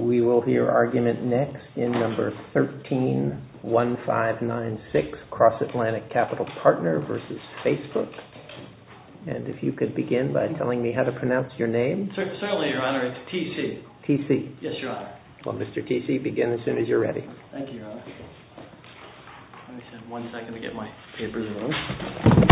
We will hear argument next in number 131596, Cross-Atlantic Capital Partner v. Facebook. And if you could begin by telling me how to pronounce your name. Certainly, Your Honor. It's T.C. T.C.? Yes, Your Honor. Well, Mr. T.C., begin as soon as you're ready. Thank you, Your Honor. Let me just have one second to get my papers in order.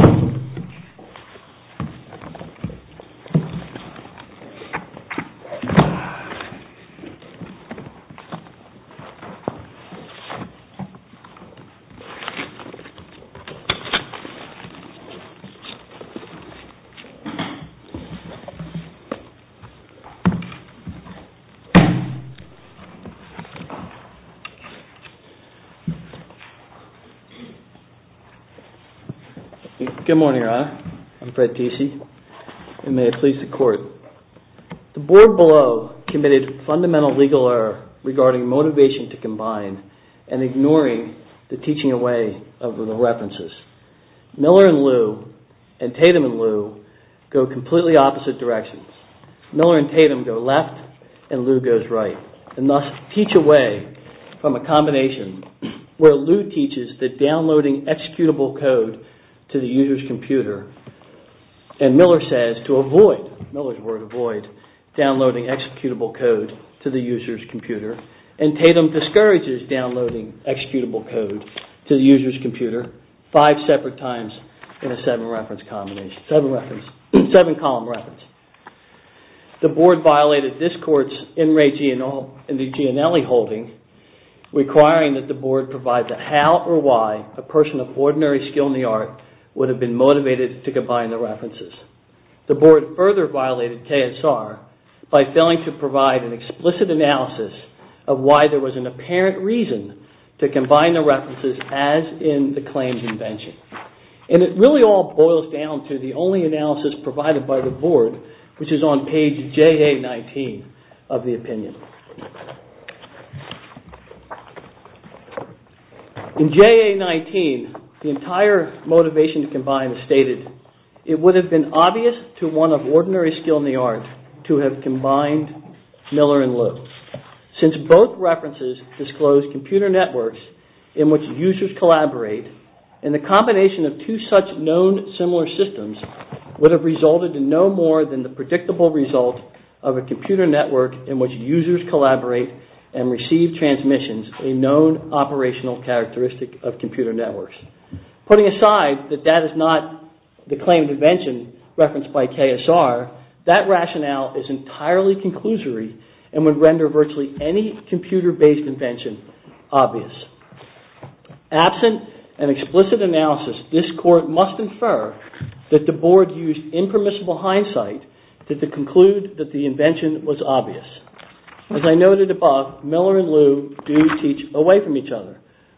Good morning, Your Honor. I'm Fred T.C. And may it please the Court. The Board below committed fundamental legal error regarding motivation to combine and ignoring the teaching away of the references. Miller and Lew, and Tatum and Lew, go completely opposite directions. Miller and Tatum go left, and Lew goes right. And thus, teach away from a combination where Lew teaches that downloading executable code to the user's computer, and Miller says to avoid, Miller's word avoid, downloading executable code to the user's computer, and Tatum discourages downloading executable code to the user's computer five separate times in a seven-reference combination, seven-reference, seven-column reference. The Board violated this Court's NREGI and the Gianelli holding, requiring that the Board provide the how or why a person of ordinary skill in the art would have been motivated to combine the references. The Board further violated TSR by failing to provide an explicit analysis of why there was an apparent reason to combine the references as in the claims invention. And it really all boils down to the only analysis provided by the Board, which is on page JA-19 of the opinion. In JA-19, the entire motivation to combine is stated, it would have been obvious to one of ordinary skill in the art to have combined Miller and Lew, since both references disclose computer networks in which users collaborate, and the combination of two such known similar systems would have resulted in no more than the predictable result of a computer network in which users collaborate and receive transmissions, a known operational characteristic of computer networks. Putting aside that that is not the claim invention referenced by TSR, that rationale is entirely conclusory and would render virtually any computer-based invention obvious. Absent an explicit analysis, this Court must infer that the Board used impermissible hindsight to conclude that the invention was obvious. As I noted above, Miller and Lew do teach away from each other.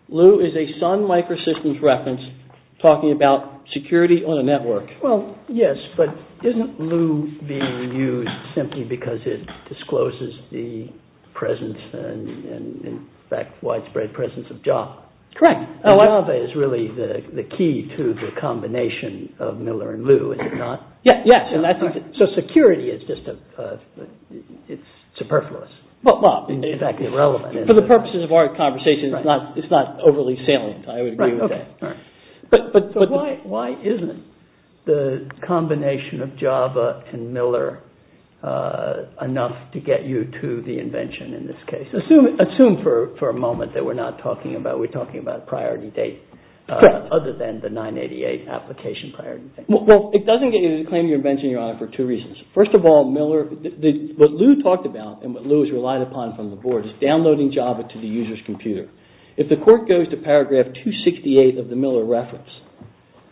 Lew is a Sun Microsystems reference talking about security on a network. Well, yes, but isn't Lew being used simply because it discloses the presence, and in fact widespread presence of Java? Correct. Java is really the key to the combination of Miller and Lew, is it not? Yes, so security is just superfluous, in fact irrelevant. For the purposes of our conversation, it's not overly salient, I would agree with that. But why isn't the combination of Java and Miller enough to get you to the invention in this case? Assume for a moment that we're not talking about, we're talking about priority date, other than the 988 application priority date. Well, it doesn't get you to claim your invention, Your Honor, for two reasons. First of all, what Lew talked about and what Lew has relied upon from the Board is downloading Java to the user's computer. If the Court goes to paragraph 268 of the Miller reference,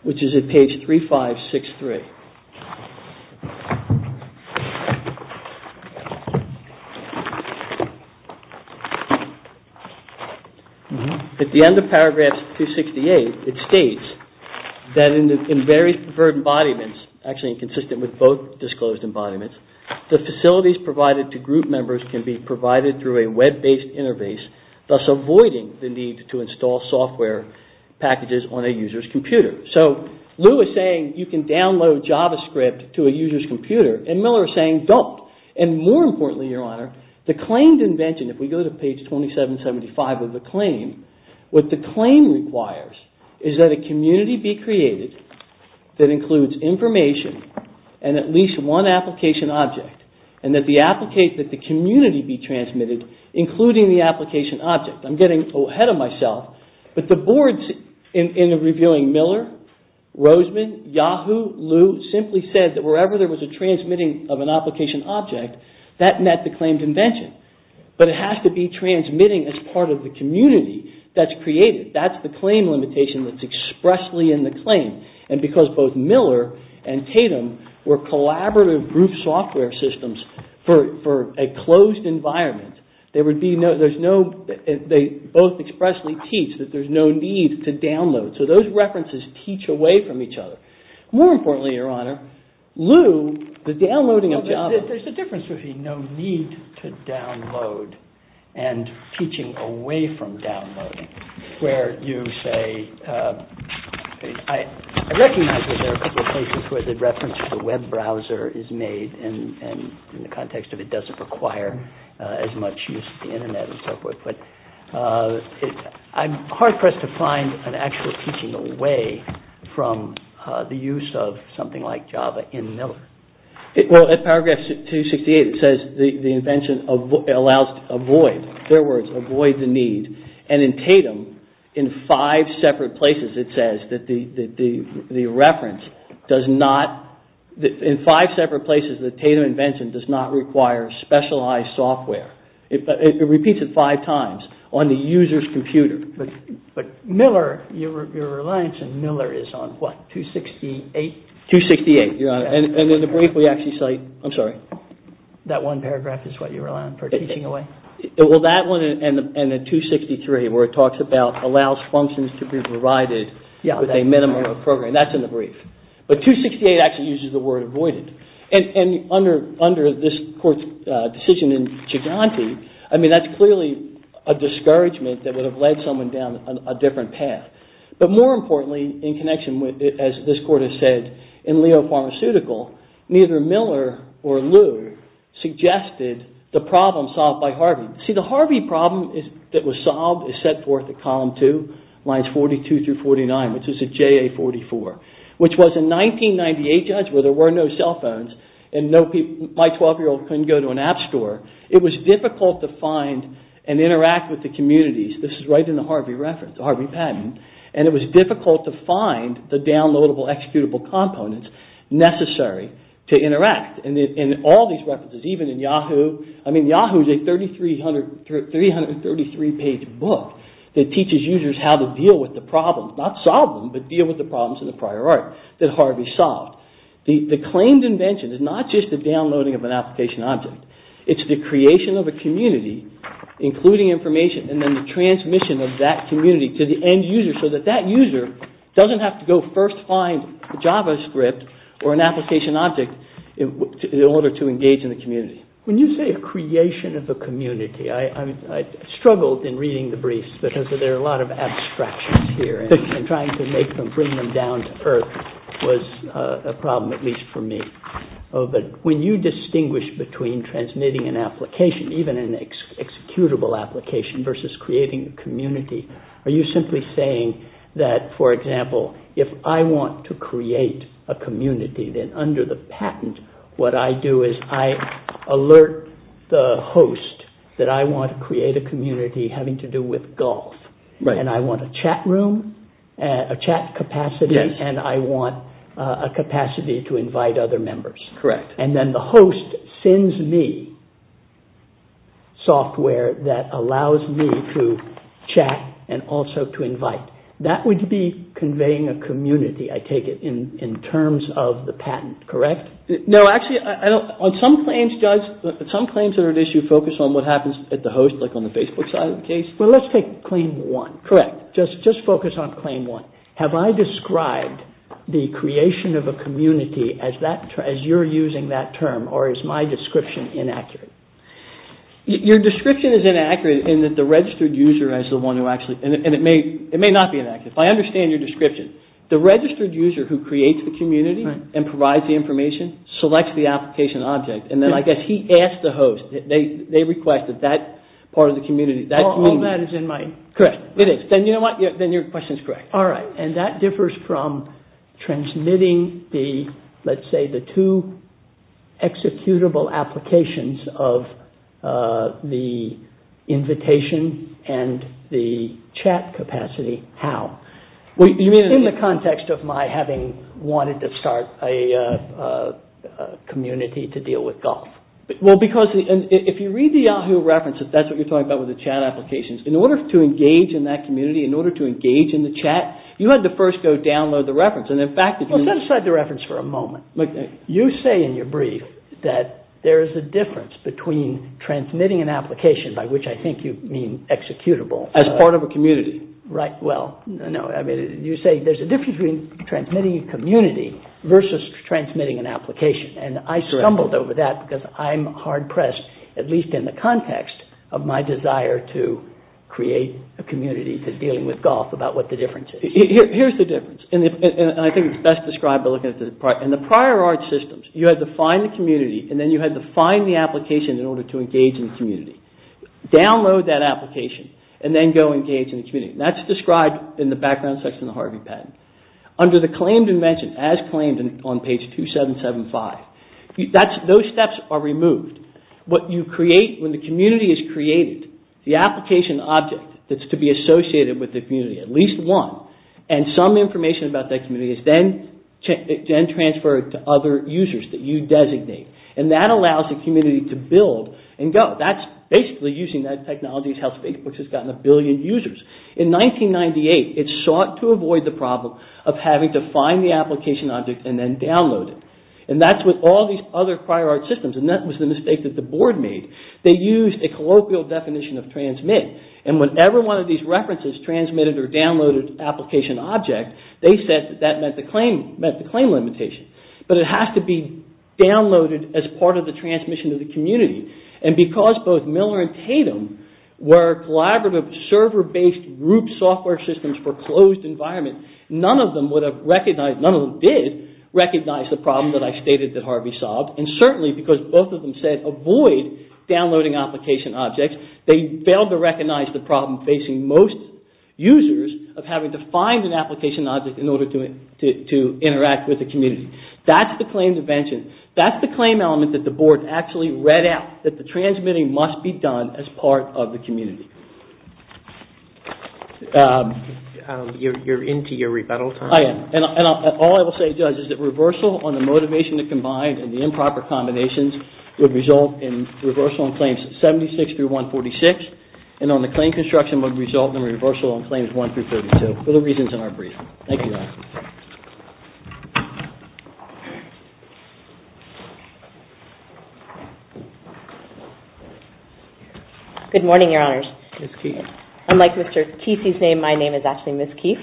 which is at page 3563. At the end of paragraph 268, it states that in various preferred embodiments, actually consistent with both disclosed embodiments, the facilities provided to group members can be provided through a web-based interface, thus avoiding the need to install software packages on a user's computer. So Lew is saying you can download JavaScript to a user's computer, and Miller is saying don't. And more importantly, Your Honor, the claimed invention, if we go to page 2775 of the claim, what the claim requires is that a community be created that includes information and at least one application object, and that the community be transmitted, including the application object. I'm getting ahead of myself, but the Board, in reviewing Miller, Roseman, Yahoo, Lew, simply said that wherever there was a transmitting of an application object, that met the claimed invention. But it has to be transmitting as part of the community that's created. That's the claim limitation that's expressly in the claim. And because both Miller and Tatum were collaborative group software systems for a closed environment, they both expressly teach that there's no need to download. So those references teach away from each other. More importantly, Your Honor, Lew, the downloading of JavaScript. There's a difference between no need to download and teaching away from downloading, where you say, I recognize that there are a couple of places where the reference to the web browser is made, and in the context of it doesn't require as much use of the Internet and so forth, but I'm hard-pressed to find an actual teaching away from the use of something like Java in Miller. Well, at paragraph 268, it says the invention allows to avoid, in their words, avoid the need. And in Tatum, in five separate places, it says that the reference does not, in five separate places, the Tatum invention does not require specialized software. It repeats it five times on the user's computer. But Miller, your reliance on Miller is on what, 268? 268, Your Honor. And in the brief, we actually cite, I'm sorry. That one paragraph is what you rely on for teaching away? Well, that one and the 263, where it talks about allows functions to be provided with a minimum of programming. That's in the brief. But 268 actually uses the word avoided. And under this court's decision in Giganti, I mean, that's clearly a discouragement that would have led someone down a different path. But more importantly, in connection with, as this court has said, in Leo Pharmaceutical, neither Miller or Lew suggested the problem solved by Harvey. See, the Harvey problem that was solved is set forth at column two, lines 42 through 49, which is a JA44, which was a 1998 judgment where there were no cell phones and my 12-year-old couldn't go to an app store. It was difficult to find and interact with the communities. This is right in the Harvey reference, the Harvey patent. And it was difficult to find the downloadable, executable components necessary to interact. And all these references, even in Yahoo, I mean, Yahoo is a 333-page book that teaches users how to deal with the problems, not solve them, but deal with the problems in the prior art that Harvey solved. The claimed invention is not just the downloading of an application object. It's the creation of a community, including information, and then the transmission of that community to the end user so that that user doesn't have to go first find JavaScript or an application object in order to engage in the community. When you say a creation of a community, I struggled in reading the briefs because there are a lot of abstractions here, and trying to make them, bring them down to earth was a problem, at least for me. But when you distinguish between transmitting an application, even an executable application, versus creating a community, are you simply saying that, for example, if I want to create a community, then under the patent, what I do is I alert the host that I want to create a community having to do with golf, and I want a chat room, a chat capacity, and I want a capacity to invite other members. And then the host sends me software that allows me to chat and also to invite. That would be conveying a community, I take it, in terms of the patent, correct? No, actually, on some claims, Judge, some claims that are at issue focus on what happens at the host, like on the Facebook side of the case. Well, let's take claim one. Correct. Just focus on claim one. Have I described the creation of a community as you're using that term, or is my description inaccurate? Your description is inaccurate in that the registered user is the one who actually, and it may not be inaccurate, but I understand your description. The registered user who creates the community and provides the information selects the application object, and then I guess he asks the host, they request that that part of the community. Correct. It is. Then you know what? Then your question is correct. All right. And that differs from transmitting the, let's say, the two executable applications of the invitation and the chat capacity. How? In the context of my having wanted to start a community to deal with golf. Well, because if you read the Yahoo reference, that's what you're talking about with the chat applications. In order to engage in that community, in order to engage in the chat, you had to first go download the reference. Well, set aside the reference for a moment. You say in your brief that there is a difference between transmitting an application, by which I think you mean executable. As part of a community. Right. Well, no. I mean, you say there's a difference between transmitting a community versus transmitting an application, and I stumbled over that because I'm hard-pressed, at least in the context of my desire to create a community to dealing with golf, about what the difference is. Here's the difference, and I think it's best described by looking at the prior art systems. You had to find the community, and then you had to find the application in order to engage in the community. Download that application, and then go engage in the community. That's described in the background section of the Harvey Patent. Under the claimed invention, as claimed on page 2775, those steps are removed. What you create, when the community is created, the application object that's to be associated with the community, at least one, and some information about that community, is then transferred to other users that you designate. And that allows the community to build and go. That's basically using that technology to help Facebook, which has gotten a billion users. In 1998, it sought to avoid the problem of having to find the application object and then download it. And that's with all these other prior art systems, and that was the mistake that the board made. They used a colloquial definition of transmit, and whenever one of these references transmitted or downloaded an application object, they said that that met the claim limitation. But it has to be downloaded as part of the transmission to the community. And because both Miller and Tatum were collaborative, server-based root software systems for closed environments, none of them would have recognized, none of them did recognize the problem that I stated that Harvey solved. And certainly because both of them said avoid downloading application objects, they failed to recognize the problem facing most users of having to find an application object in order to interact with the community. That's the claimed invention. That's the claim element that the board actually read out, that the transmitting must be done as part of the community. You're into your rebuttal time. I am. And all I will say, Judge, is that reversal on the motivation to combine and the improper combinations would result in reversal on claims 76 through 146, and on the claim construction would result in reversal on claims 1 through 32, for the reasons in our brief. Thank you, guys. Good morning, Your Honors. Ms. Keefe. Unlike Mr. Keefe's name, my name is actually Ms. Keefe,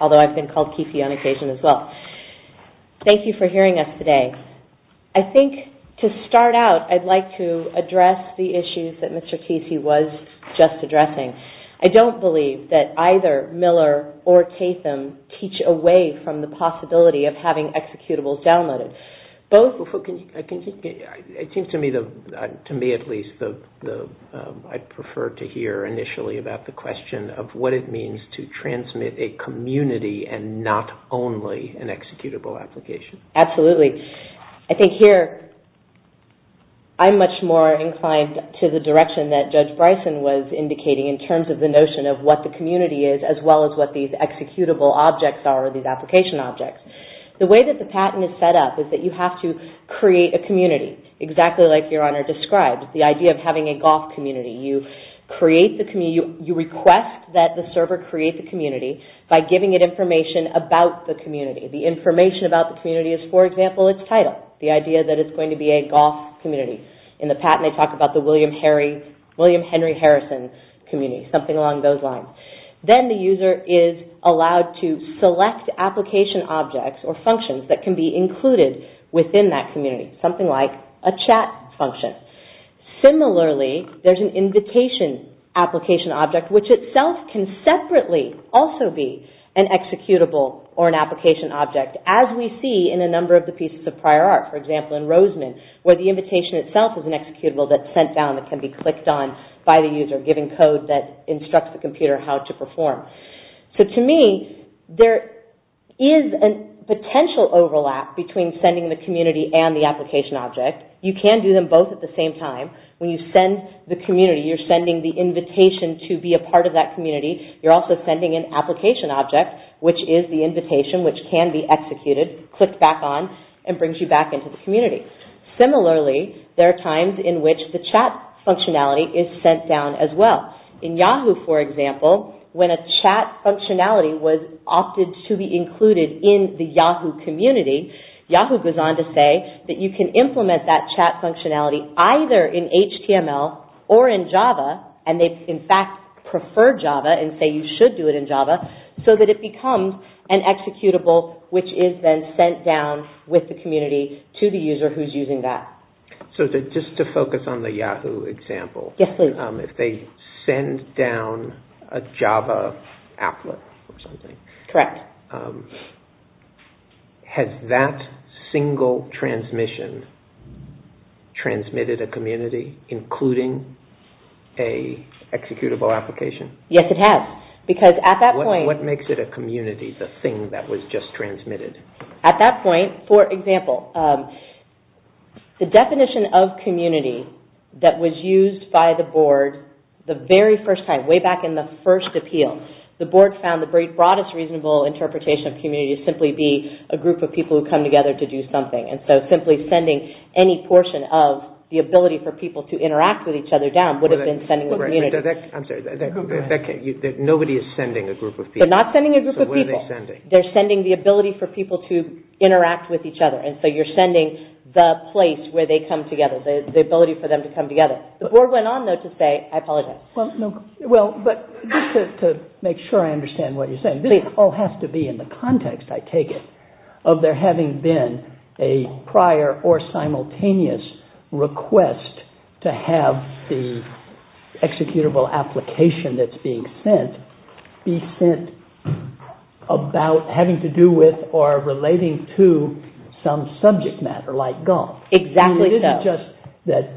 although I've been called Keefe on occasion as well. Thank you for hearing us today. I think to start out, I'd like to address the issues that Mr. Keefe was just addressing. I don't believe that either Miller or Tatum teach away from the possibility of having executables downloaded. It seems to me, at least, I prefer to hear initially about the question of what it means to transmit a community and not only an executable application. Absolutely. I think here I'm much more inclined to the direction that Judge Bryson was indicating in terms of the notion of what the community is, as well as what these executable objects are, these application objects. The way that the patent is set up is that you have to create a community, exactly like Your Honor described, the idea of having a golf community. You request that the server create the community by giving it information about the community. The information about the community is, for example, its title, the idea that it's going to be a golf community. In the patent, they talk about the William Henry Harrison community, something along those lines. Then the user is allowed to select application objects or functions that can be included within that community, something like a chat function. Similarly, there's an invitation application object, which itself can separately also be an executable or an application object, as we see in a number of the pieces of prior art. For example, in Roseman, where the invitation itself is an executable that's sent down and can be clicked on by the user, giving code that instructs the computer how to perform. To me, there is a potential overlap between sending the community and the application object. You can do them both at the same time. When you send the community, you're sending the invitation to be a part of that community. You're also sending an application object, which is the invitation, which can be executed, clicked back on, and brings you back into the community. Similarly, there are times in which the chat functionality is sent down as well. In Yahoo, for example, when a chat functionality was opted to be included in the Yahoo community, Yahoo goes on to say that you can implement that chat functionality either in HTML or in Java, and they, in fact, prefer Java and say you should do it in Java, so that it becomes an executable, which is then sent down with the community to the user who's using that. Just to focus on the Yahoo example, if they send down a Java applet or something, has that single transmission transmitted a community, including an executable application? Yes, it has, because at that point... What makes it a community, the thing that was just transmitted? At that point, for example, the definition of community that was used by the board the very first time, way back in the first appeal, the board found the very broadest reasonable interpretation of community to simply be a group of people who come together to do something, and so simply sending any portion of the ability for people to interact with each other down would have been sending the community. I'm sorry, nobody is sending a group of people. They're not sending a group of people. So what are they sending? They're sending the ability for people to interact with each other, and so you're sending the place where they come together, the ability for them to come together. The board went on, though, to say, I apologize. Well, but just to make sure I understand what you're saying, this all has to be in the context, I take it, of there having been a prior or simultaneous request to have the executable application that's being sent be sent about having to do with or relating to some subject matter, like golf. Exactly so. It isn't just that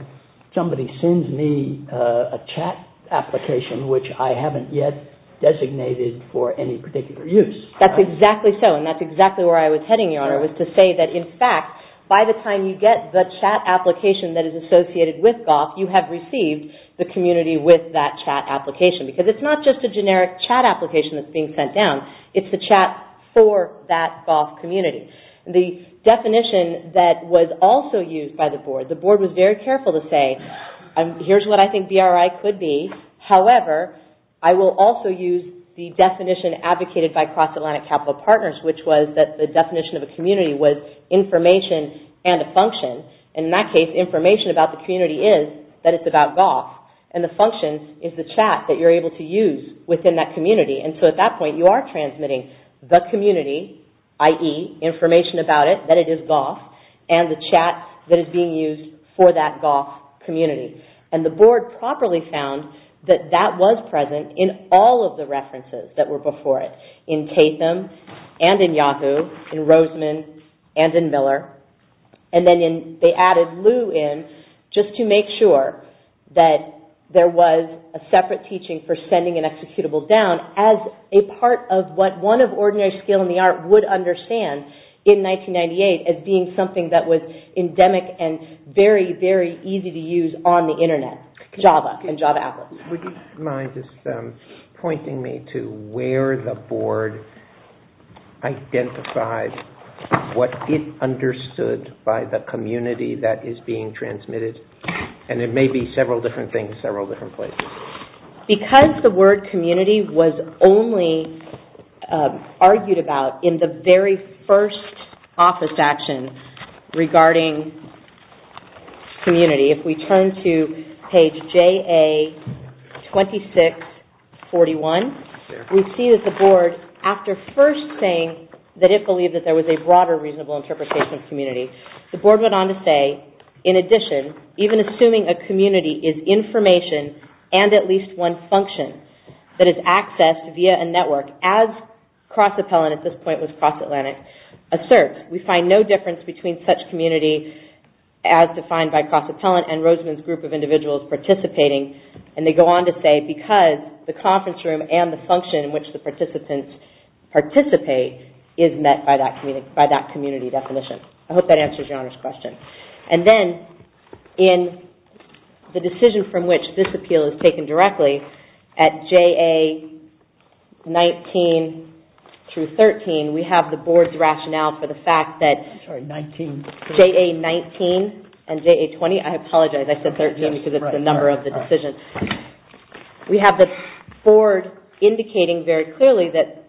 somebody sends me a chat application, which I haven't yet designated for any particular use. That's exactly so, and that's exactly where I was heading, Your Honor, was to say that, in fact, by the time you get the chat application that is associated with golf, you have received the community with that chat application, because it's not just a generic chat application that's being sent down. It's the chat for that golf community. The definition that was also used by the board, the board was very careful to say, here's what I think BRI could be. However, I will also use the definition advocated by Cross-Atlantic Capital Partners, which was that the definition of a community was information and a function. In that case, information about the community is that it's about golf, and the function is the chat that you're able to use within that community. At that point, you are transmitting the community, i.e., information about it, that it is golf, and the chat that is being used for that golf community. The board properly found that that was present in all of the references that were before it, in Tatham and in Yahoo, in Roseman and in Miller, and then they added Lou in just to make sure that there was a separate teaching for sending an executable down as a part of what one of ordinary skill in the art would understand in 1998 as being something that was endemic and very, very easy to use on the Internet, Java and Java Apples. Would you mind just pointing me to where the board identified what it understood by the community that is being transmitted? And it may be several different things, several different places. Because the word community was only argued about in the very first office action regarding community, if we turn to page JA2641, we see that the board, after first saying that it believed that there was a broader reasonable interpretation of community, the board went on to say, in addition, even assuming a community is information and at least one function that is accessed via a network, as CrossAppellant at this point was CrossAtlantic, asserts, we find no difference between such community as defined by CrossAppellant and Roseman's group of individuals participating, and they go on to say, because the conference room and the function in which the participants participate is met by that community definition. I hope that answers Your Honor's question. And then, in the decision from which this appeal is taken directly, at JA19 through 13, we have the board's rationale for the fact that JA19 and JA20, I apologize, I said 13 because it's the number of the decision. We have the board indicating very clearly that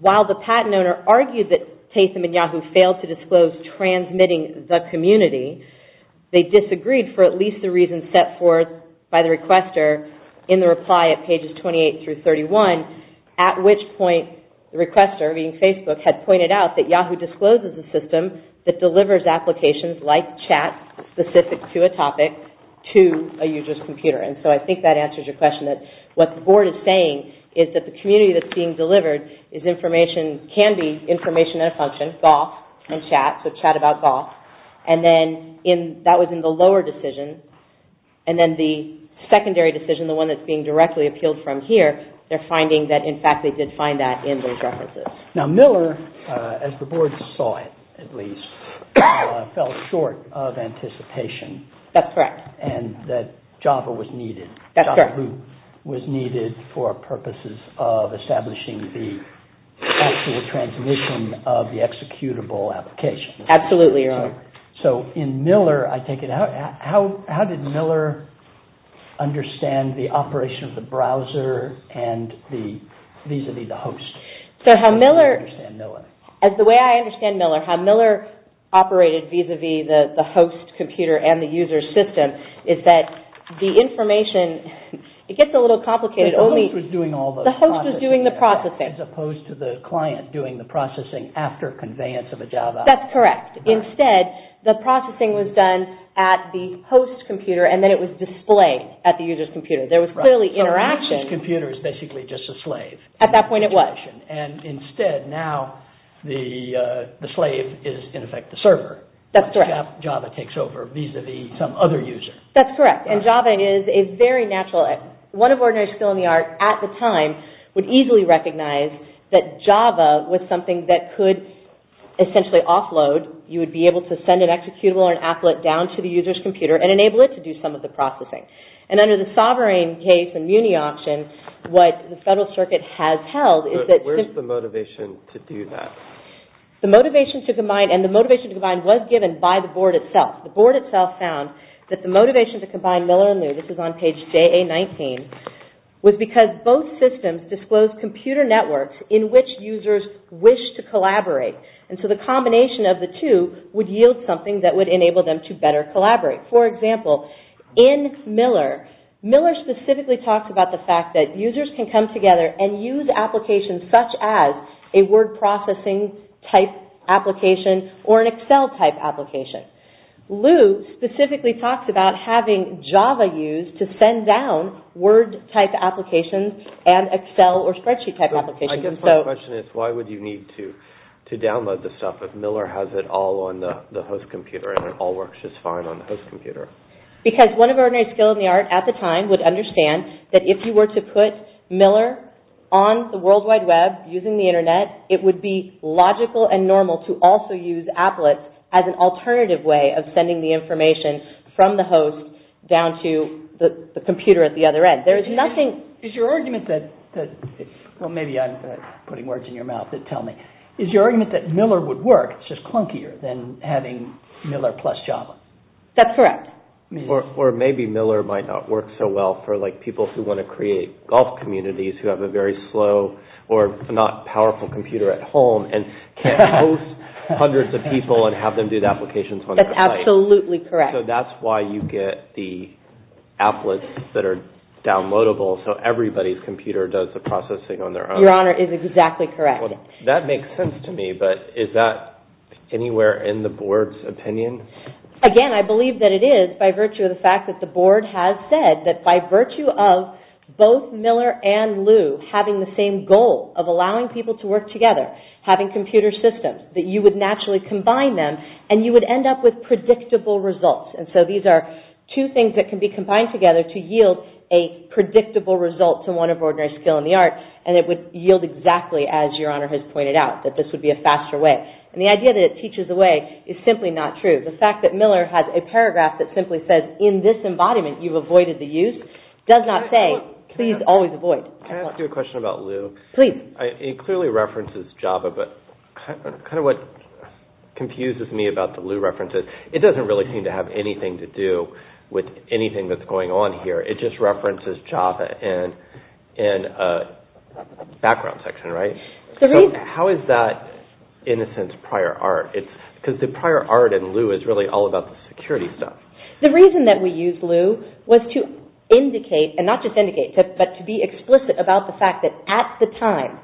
while the patent owner argued that Tatum and Yahoo failed to disclose transmitting the community, they disagreed for at least the reasons set forth by the requester in the reply at pages 28 through 31, at which point the requester, being Facebook, had pointed out that Yahoo discloses a system that delivers applications like chat specific to a topic to a user's computer. And so I think that answers your question that what the board is saying is that the community that's being delivered is information, can be information and a function, golf and chat, so chat about golf. And then, that was in the lower decision, and then the secondary decision, the one that's being directly appealed from here, they're finding that, in fact, they did find that in those references. Now, Miller, as the board saw it, at least, fell short of anticipation. That's correct. And that Java was needed. That's correct. Yahoo was needed for purposes of establishing the actual transmission of the executable application. Absolutely, Your Honor. So, in Miller, I take it, how did Miller understand the operation of the browser and the, vis-a-vis the host? So, how Miller, as the way I understand Miller, how Miller operated vis-a-vis the host computer and the user system is that the information, it gets a little complicated. The host was doing all the processing. The host was doing the processing. As opposed to the client doing the processing after conveyance of a Java. That's correct. Instead, the processing was done at the host computer, and then it was displayed at the user's computer. There was clearly interaction. So, the user's computer is basically just a slave. At that point, it was. And instead, now, the slave is, in effect, the server. That's correct. Java takes over vis-a-vis some other user. That's correct. And Java is a very natural, one of ordinary skill in the art, at the time, would easily recognize that Java was something that could essentially offload. You would be able to send an executable or an applet down to the user's computer and enable it to do some of the processing. And under the Sovereign case and Muni option, what the Federal Circuit has held is that... Where's the motivation to do that? The motivation to combine, and the motivation to combine was given by the board itself. The board itself found that the motivation to combine Miller and Lu, this is on page JA-19, was because both systems disclosed computer networks in which users wish to collaborate. And so, the combination of the two would yield something that would enable them to better collaborate. For example, in Miller, Miller specifically talks about the fact that users can come together and use applications such as a word processing type application or an Excel type application. Lu specifically talks about having Java used to send down word type applications and Excel or spreadsheet type applications. I guess my question is, why would you need to download the stuff if Miller has it all on the host computer and it all works just fine on the host computer? Because one of ordinary skill in the art at the time would understand that if you were to put Miller on the World Wide Web using the Internet, it would be logical and normal to also use applets as an alternative way of sending the information from the host down to the computer at the other end. There is nothing... Is your argument that, well maybe I'm putting words in your mouth that tell me, is your argument that Miller would work, it's just clunkier than having Miller plus Java? That's correct. Or maybe Miller might not work so well for like people who want to create golf communities who have a very slow or not powerful computer at home and can't host hundreds of people and have them do the applications on their own. That's absolutely correct. So that's why you get the applets that are downloadable so everybody's computer does the processing on their own. Your Honor, it is exactly correct. That makes sense to me, but is that anywhere in the Board's opinion? Again, I believe that it is by virtue of the fact that the Board has said that by virtue of both Miller and Lu having the same goal of allowing people to work together, having computer systems, that you would naturally combine them and you would end up with predictable results. And so these are two things that can be combined together to yield a predictable result to one of ordinary skill in the art and it would yield exactly as Your Honor has pointed out, that this would be a faster way. And the idea that it teaches away is simply not true. The fact that Miller has a paragraph that simply says, in this embodiment you've avoided the use, does not say, please always avoid. Can I ask you a question about Lu? Please. It clearly references Java, but kind of what confuses me about the Lu references, it doesn't really seem to have anything to do with anything that's going on here. It just references Java and background section, right? How is that, in a sense, prior art? Because the prior art in Lu is really all about the security stuff. The reason that we used Lu was to indicate, and not just indicate, but to be explicit about the fact that at the time,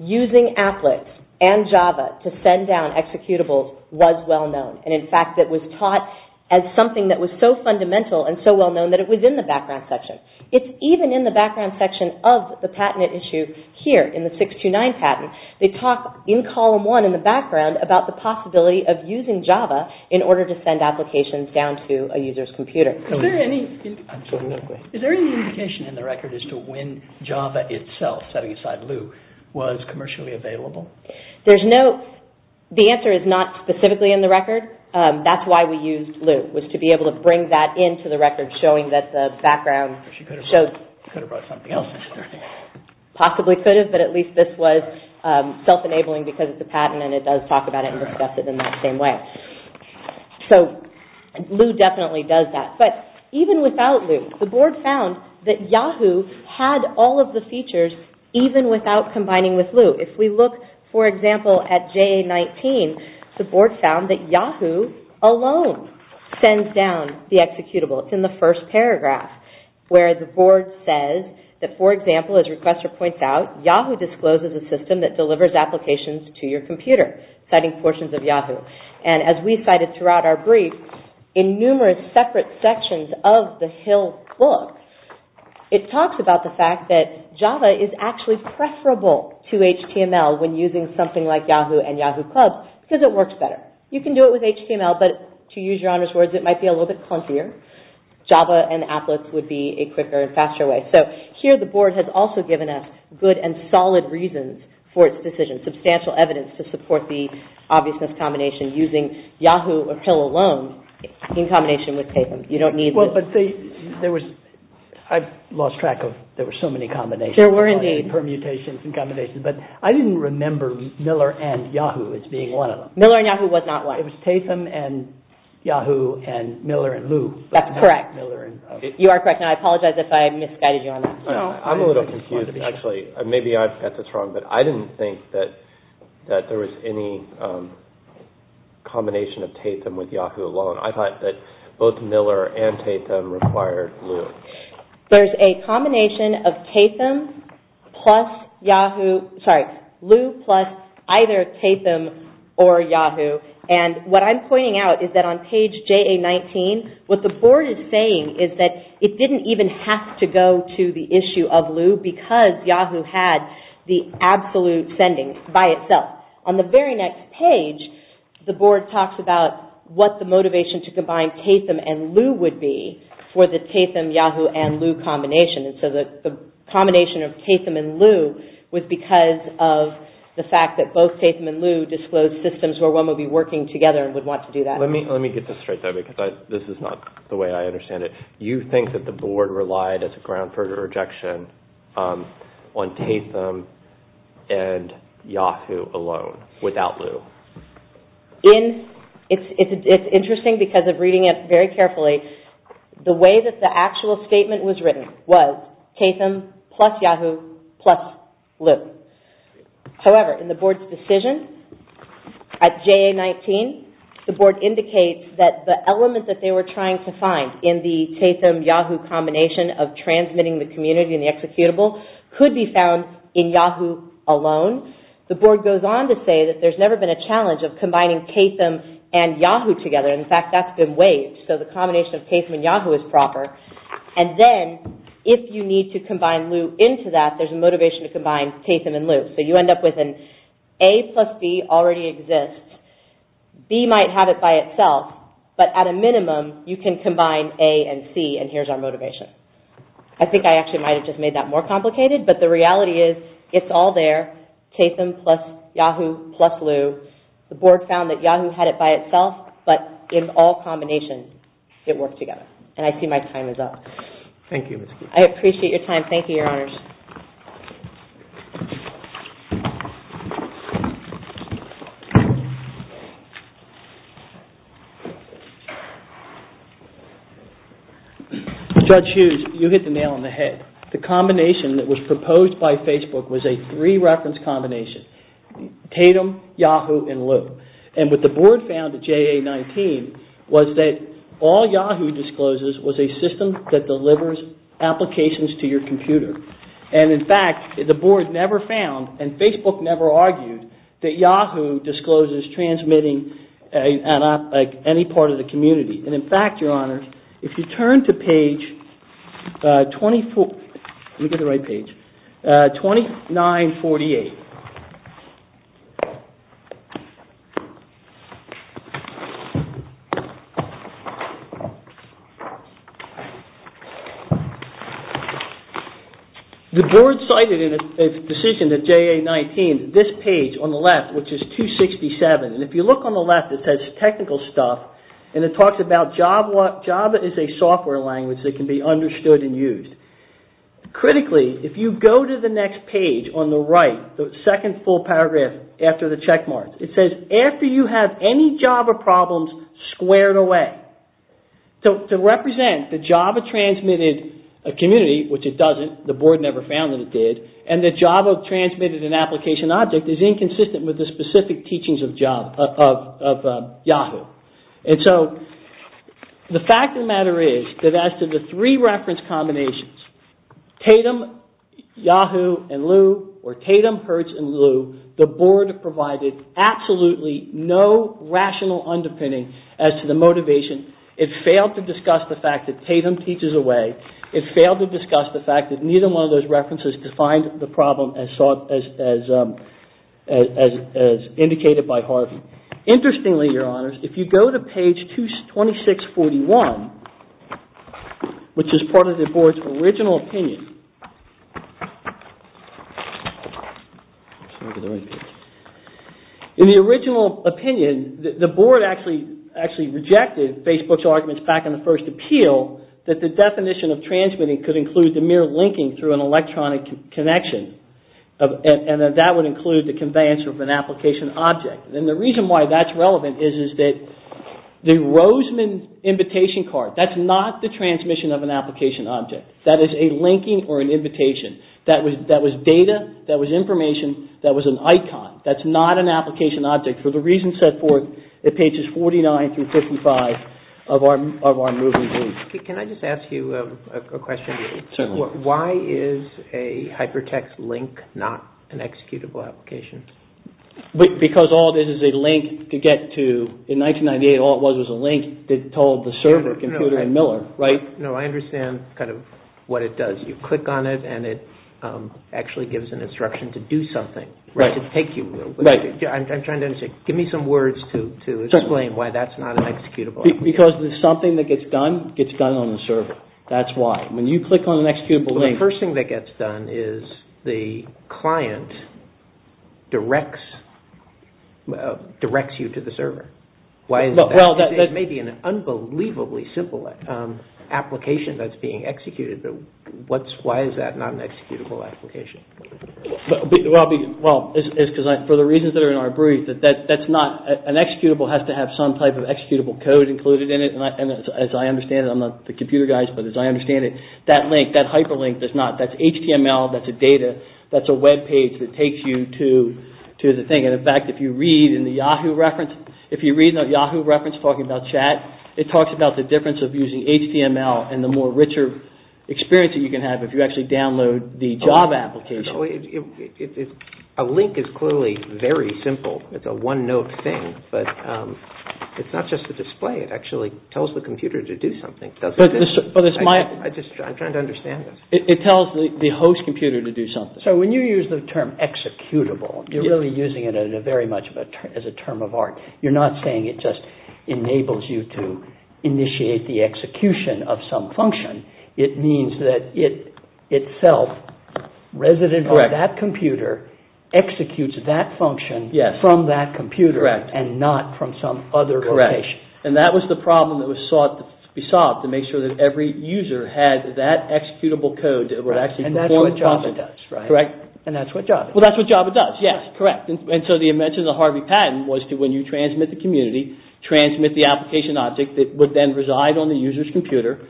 using Applet and Java to send down executables was well-known. And in fact, it was taught as something that was so fundamental and so well-known that it was in the background section. It's even in the background section of the patented issue here in the 629 patent. They talk in column one in the background about the possibility of using Java in order to send applications down to a user's computer. Absolutely. Is there any indication in the record as to when Java itself, setting aside Lu, was commercially available? The answer is not specifically in the record. That's why we used Lu, was to be able to bring that into the record, showing that the background. She could have brought something else. Possibly could have, but at least this was self-enabling because it's a patent and it does talk about it and discuss it in that same way. So Lu definitely does that. But even without Lu, the board found that Yahoo had all of the features even without combining with Lu. If we look, for example, at JA-19, the board found that Yahoo alone sends down the executable. It's in the first paragraph where the board says that, for example, as Requester points out, Yahoo discloses a system that delivers applications to your computer, citing portions of Yahoo. And as we cited throughout our brief, in numerous separate sections of the Hill book, it talks about the fact that Java is actually preferable to HTML when using something like Yahoo and Yahoo! Club because it works better. You can do it with HTML, but to use Your Honor's words, it might be a little bit clumpier. Java and Applet would be a quicker and faster way. So here the board has also given us good and solid reasons for its decision, substantial evidence to support the obviousness combination using Yahoo! or Hill alone in combination with TASEM. You don't need the... Well, but there was... I've lost track of... There were so many combinations. There were indeed. Permutations and combinations. But I didn't remember Miller and Yahoo! as being one of them. Miller and Yahoo! was not one. It was TASEM and Yahoo! and Miller and Lu. That's correct. You are correct. And I apologize if I misguided you on that. I'm a little confused, actually. Maybe I've got this wrong, but I didn't think that there was any combination of TASEM with Yahoo! alone. I thought that both Miller and TASEM required Lu. There's a combination of TASEM plus Yahoo! Sorry, Lu plus either TASEM or Yahoo! And what I'm pointing out is that on page JA-19, what the board is saying is that it didn't even have to go to the issue of Lu because Yahoo! had the absolute sending by itself. On the very next page, the board talks about what the motivation to combine TASEM and Lu would be for the TASEM, Yahoo! and Lu combination. And so the combination of TASEM and Lu was because of the fact that both TASEM and Lu disclosed systems where one would be working together and would want to do that. Let me get this straight, though, because this is not the way I understand it. You think that the board relied as a ground for rejection on TASEM and Yahoo! alone, without Lu? It's interesting because of reading it very carefully. The way that the actual statement was written was TASEM plus Yahoo! plus Lu. However, in the board's decision at JA-19, the board indicates that the element that they were trying to find in the TASEM, Yahoo! combination of transmitting the community and the executable could be found in Yahoo! alone. The board goes on to say that there's never been a challenge of combining TASEM and Yahoo! together. In fact, that's been waived. So the combination of TASEM and Yahoo! is proper. And then, if you need to combine Lu into that, there's a motivation to combine TASEM and Lu. So you end up with an A plus B already exists. B might have it by itself, but at a minimum, you can combine A and C, and here's our motivation. I think I actually might have just made that more complicated, but the reality is it's all there. TASEM plus Yahoo! plus Lu. The board found that Yahoo! had it by itself, but in all combinations, it worked together. And I see my time is up. Thank you. I appreciate your time. Thank you, Your Honors. Judge Hughes, you hit the nail on the head. The combination that was proposed by Facebook was a three-reference combination. TASEM, Yahoo! and Lu. And what the board found at JA-19 was that all Yahoo! discloses was a system that delivers applications to your computer. an application that was a three-reference combination. And Facebook never argued that Yahoo! discloses transmitting at any part of the community. And in fact, Your Honors, if you turn to page 24... Let me get the right page. 2948. The board cited in a decision at JA-19 this page on the left, which is 267. And if you look on the left, it says technical stuff. And it talks about Java. Java is a software language that can be understood and used. Critically, if you go to the next page on the right, that can be understood and used. This is the second full paragraph after the check marks. It says, after you have any Java problems squared away. To represent the Java transmitted community, which it doesn't, the board never found that it did, and the Java transmitted in application object is inconsistent with the specific teachings of Yahoo! And so, the fact of the matter is that as to the three-reference combinations, TASEM, Yahoo! and Lu, or TASEM, Hertz, and Lu, the board provided absolutely no rational underpinning as to the motivation. It failed to discuss the fact that TASEM teaches away. It failed to discuss the fact that neither one of those references defined the problem as indicated by Harvey. Interestingly, Your Honors, if you go to page 2641, which is part of the board's original opinion, In the original opinion, the board actually rejected Facebook's arguments back in the first appeal that the definition of transmitting could include the mere linking through an electronic connection, and that that would include the conveyance of an application object. And the reason why that's relevant is that the Roseman invitation card, that's not the transmission of an application object. That is a linking or an invitation. That was data, that was information, that was an icon. That's not an application object. For the reasons set forth at pages 49 through 55 of our moving group. Can I just ask you a question? Certainly. Why is a hypertext link not an executable application? Because all this is a link to get to, in 1998, all it was was a link that told the server, computer, and Miller, right? No, I understand kind of what it does. You click on it and it actually gives an instruction to do something. Right. I'm trying to understand. Give me some words to explain why that's not an executable. Because something that gets done, gets done on the server. That's why. When you click on an executable link... The first thing that gets done is the client directs you to the server. Why is that? It may be an unbelievably simple application that's being executed, but why is that not an executable application? For the reasons that are in our brief, that's not... An executable has to have some type of executable code included in it. As I understand it, I'm not the computer guy, but as I understand it, that link, that hyperlink, that's HTML, that's a data, that's a webpage that takes you to the thing. In fact, if you read in the Yahoo reference, if you read the Yahoo reference talking about chat, it talks about the difference of using HTML and the more richer experience that you can have if you actually download the job application. A link is clearly very simple. It's a one-note thing, but it's not just a display. It actually tells the computer to do something. I'm trying to understand this. It tells the host computer to do something. So when you use the term executable, you're really using it very much as a term of art. You're not saying it just enables you to initiate the execution of some function. It means that it itself, resident of that computer, executes that function from that computer and not from some other location. And that was the problem that was sought to be solved to make sure that every user had that executable code. And that's what Java does, right? Correct. And that's what Java does. Well, that's what Java does. Yes, correct. And so the invention of Harvey Patton was that when you transmit the community, transmit the application object that would then reside on the user's computer,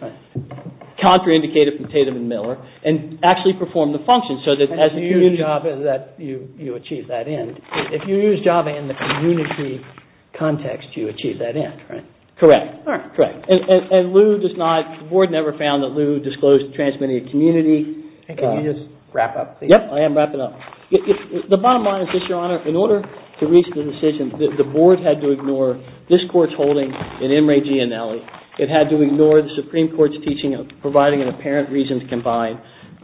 contraindicated from Tatum and Miller, and actually perform the function. And if you use Java, you achieve that end. If you use Java in the community context, you achieve that end, right? Correct. And Lou does not, the board never found that Lou disclosed transmitting a community. Can you just wrap up, please? Yes, I am wrapping up. The bottom line is this, Your Honor. In order to reach the decision, the board had to ignore this court's holding in M. Ray Gianelli. It had to ignore the Supreme Court's teaching of providing an apparent reason to combine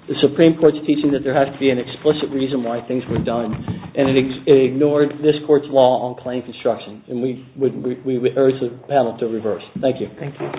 the Supreme Court's teaching that there has to be an explicit reason why things were done. And it ignored this court's law on claim construction. And we urge the panel to reverse. Thank you. Thank you.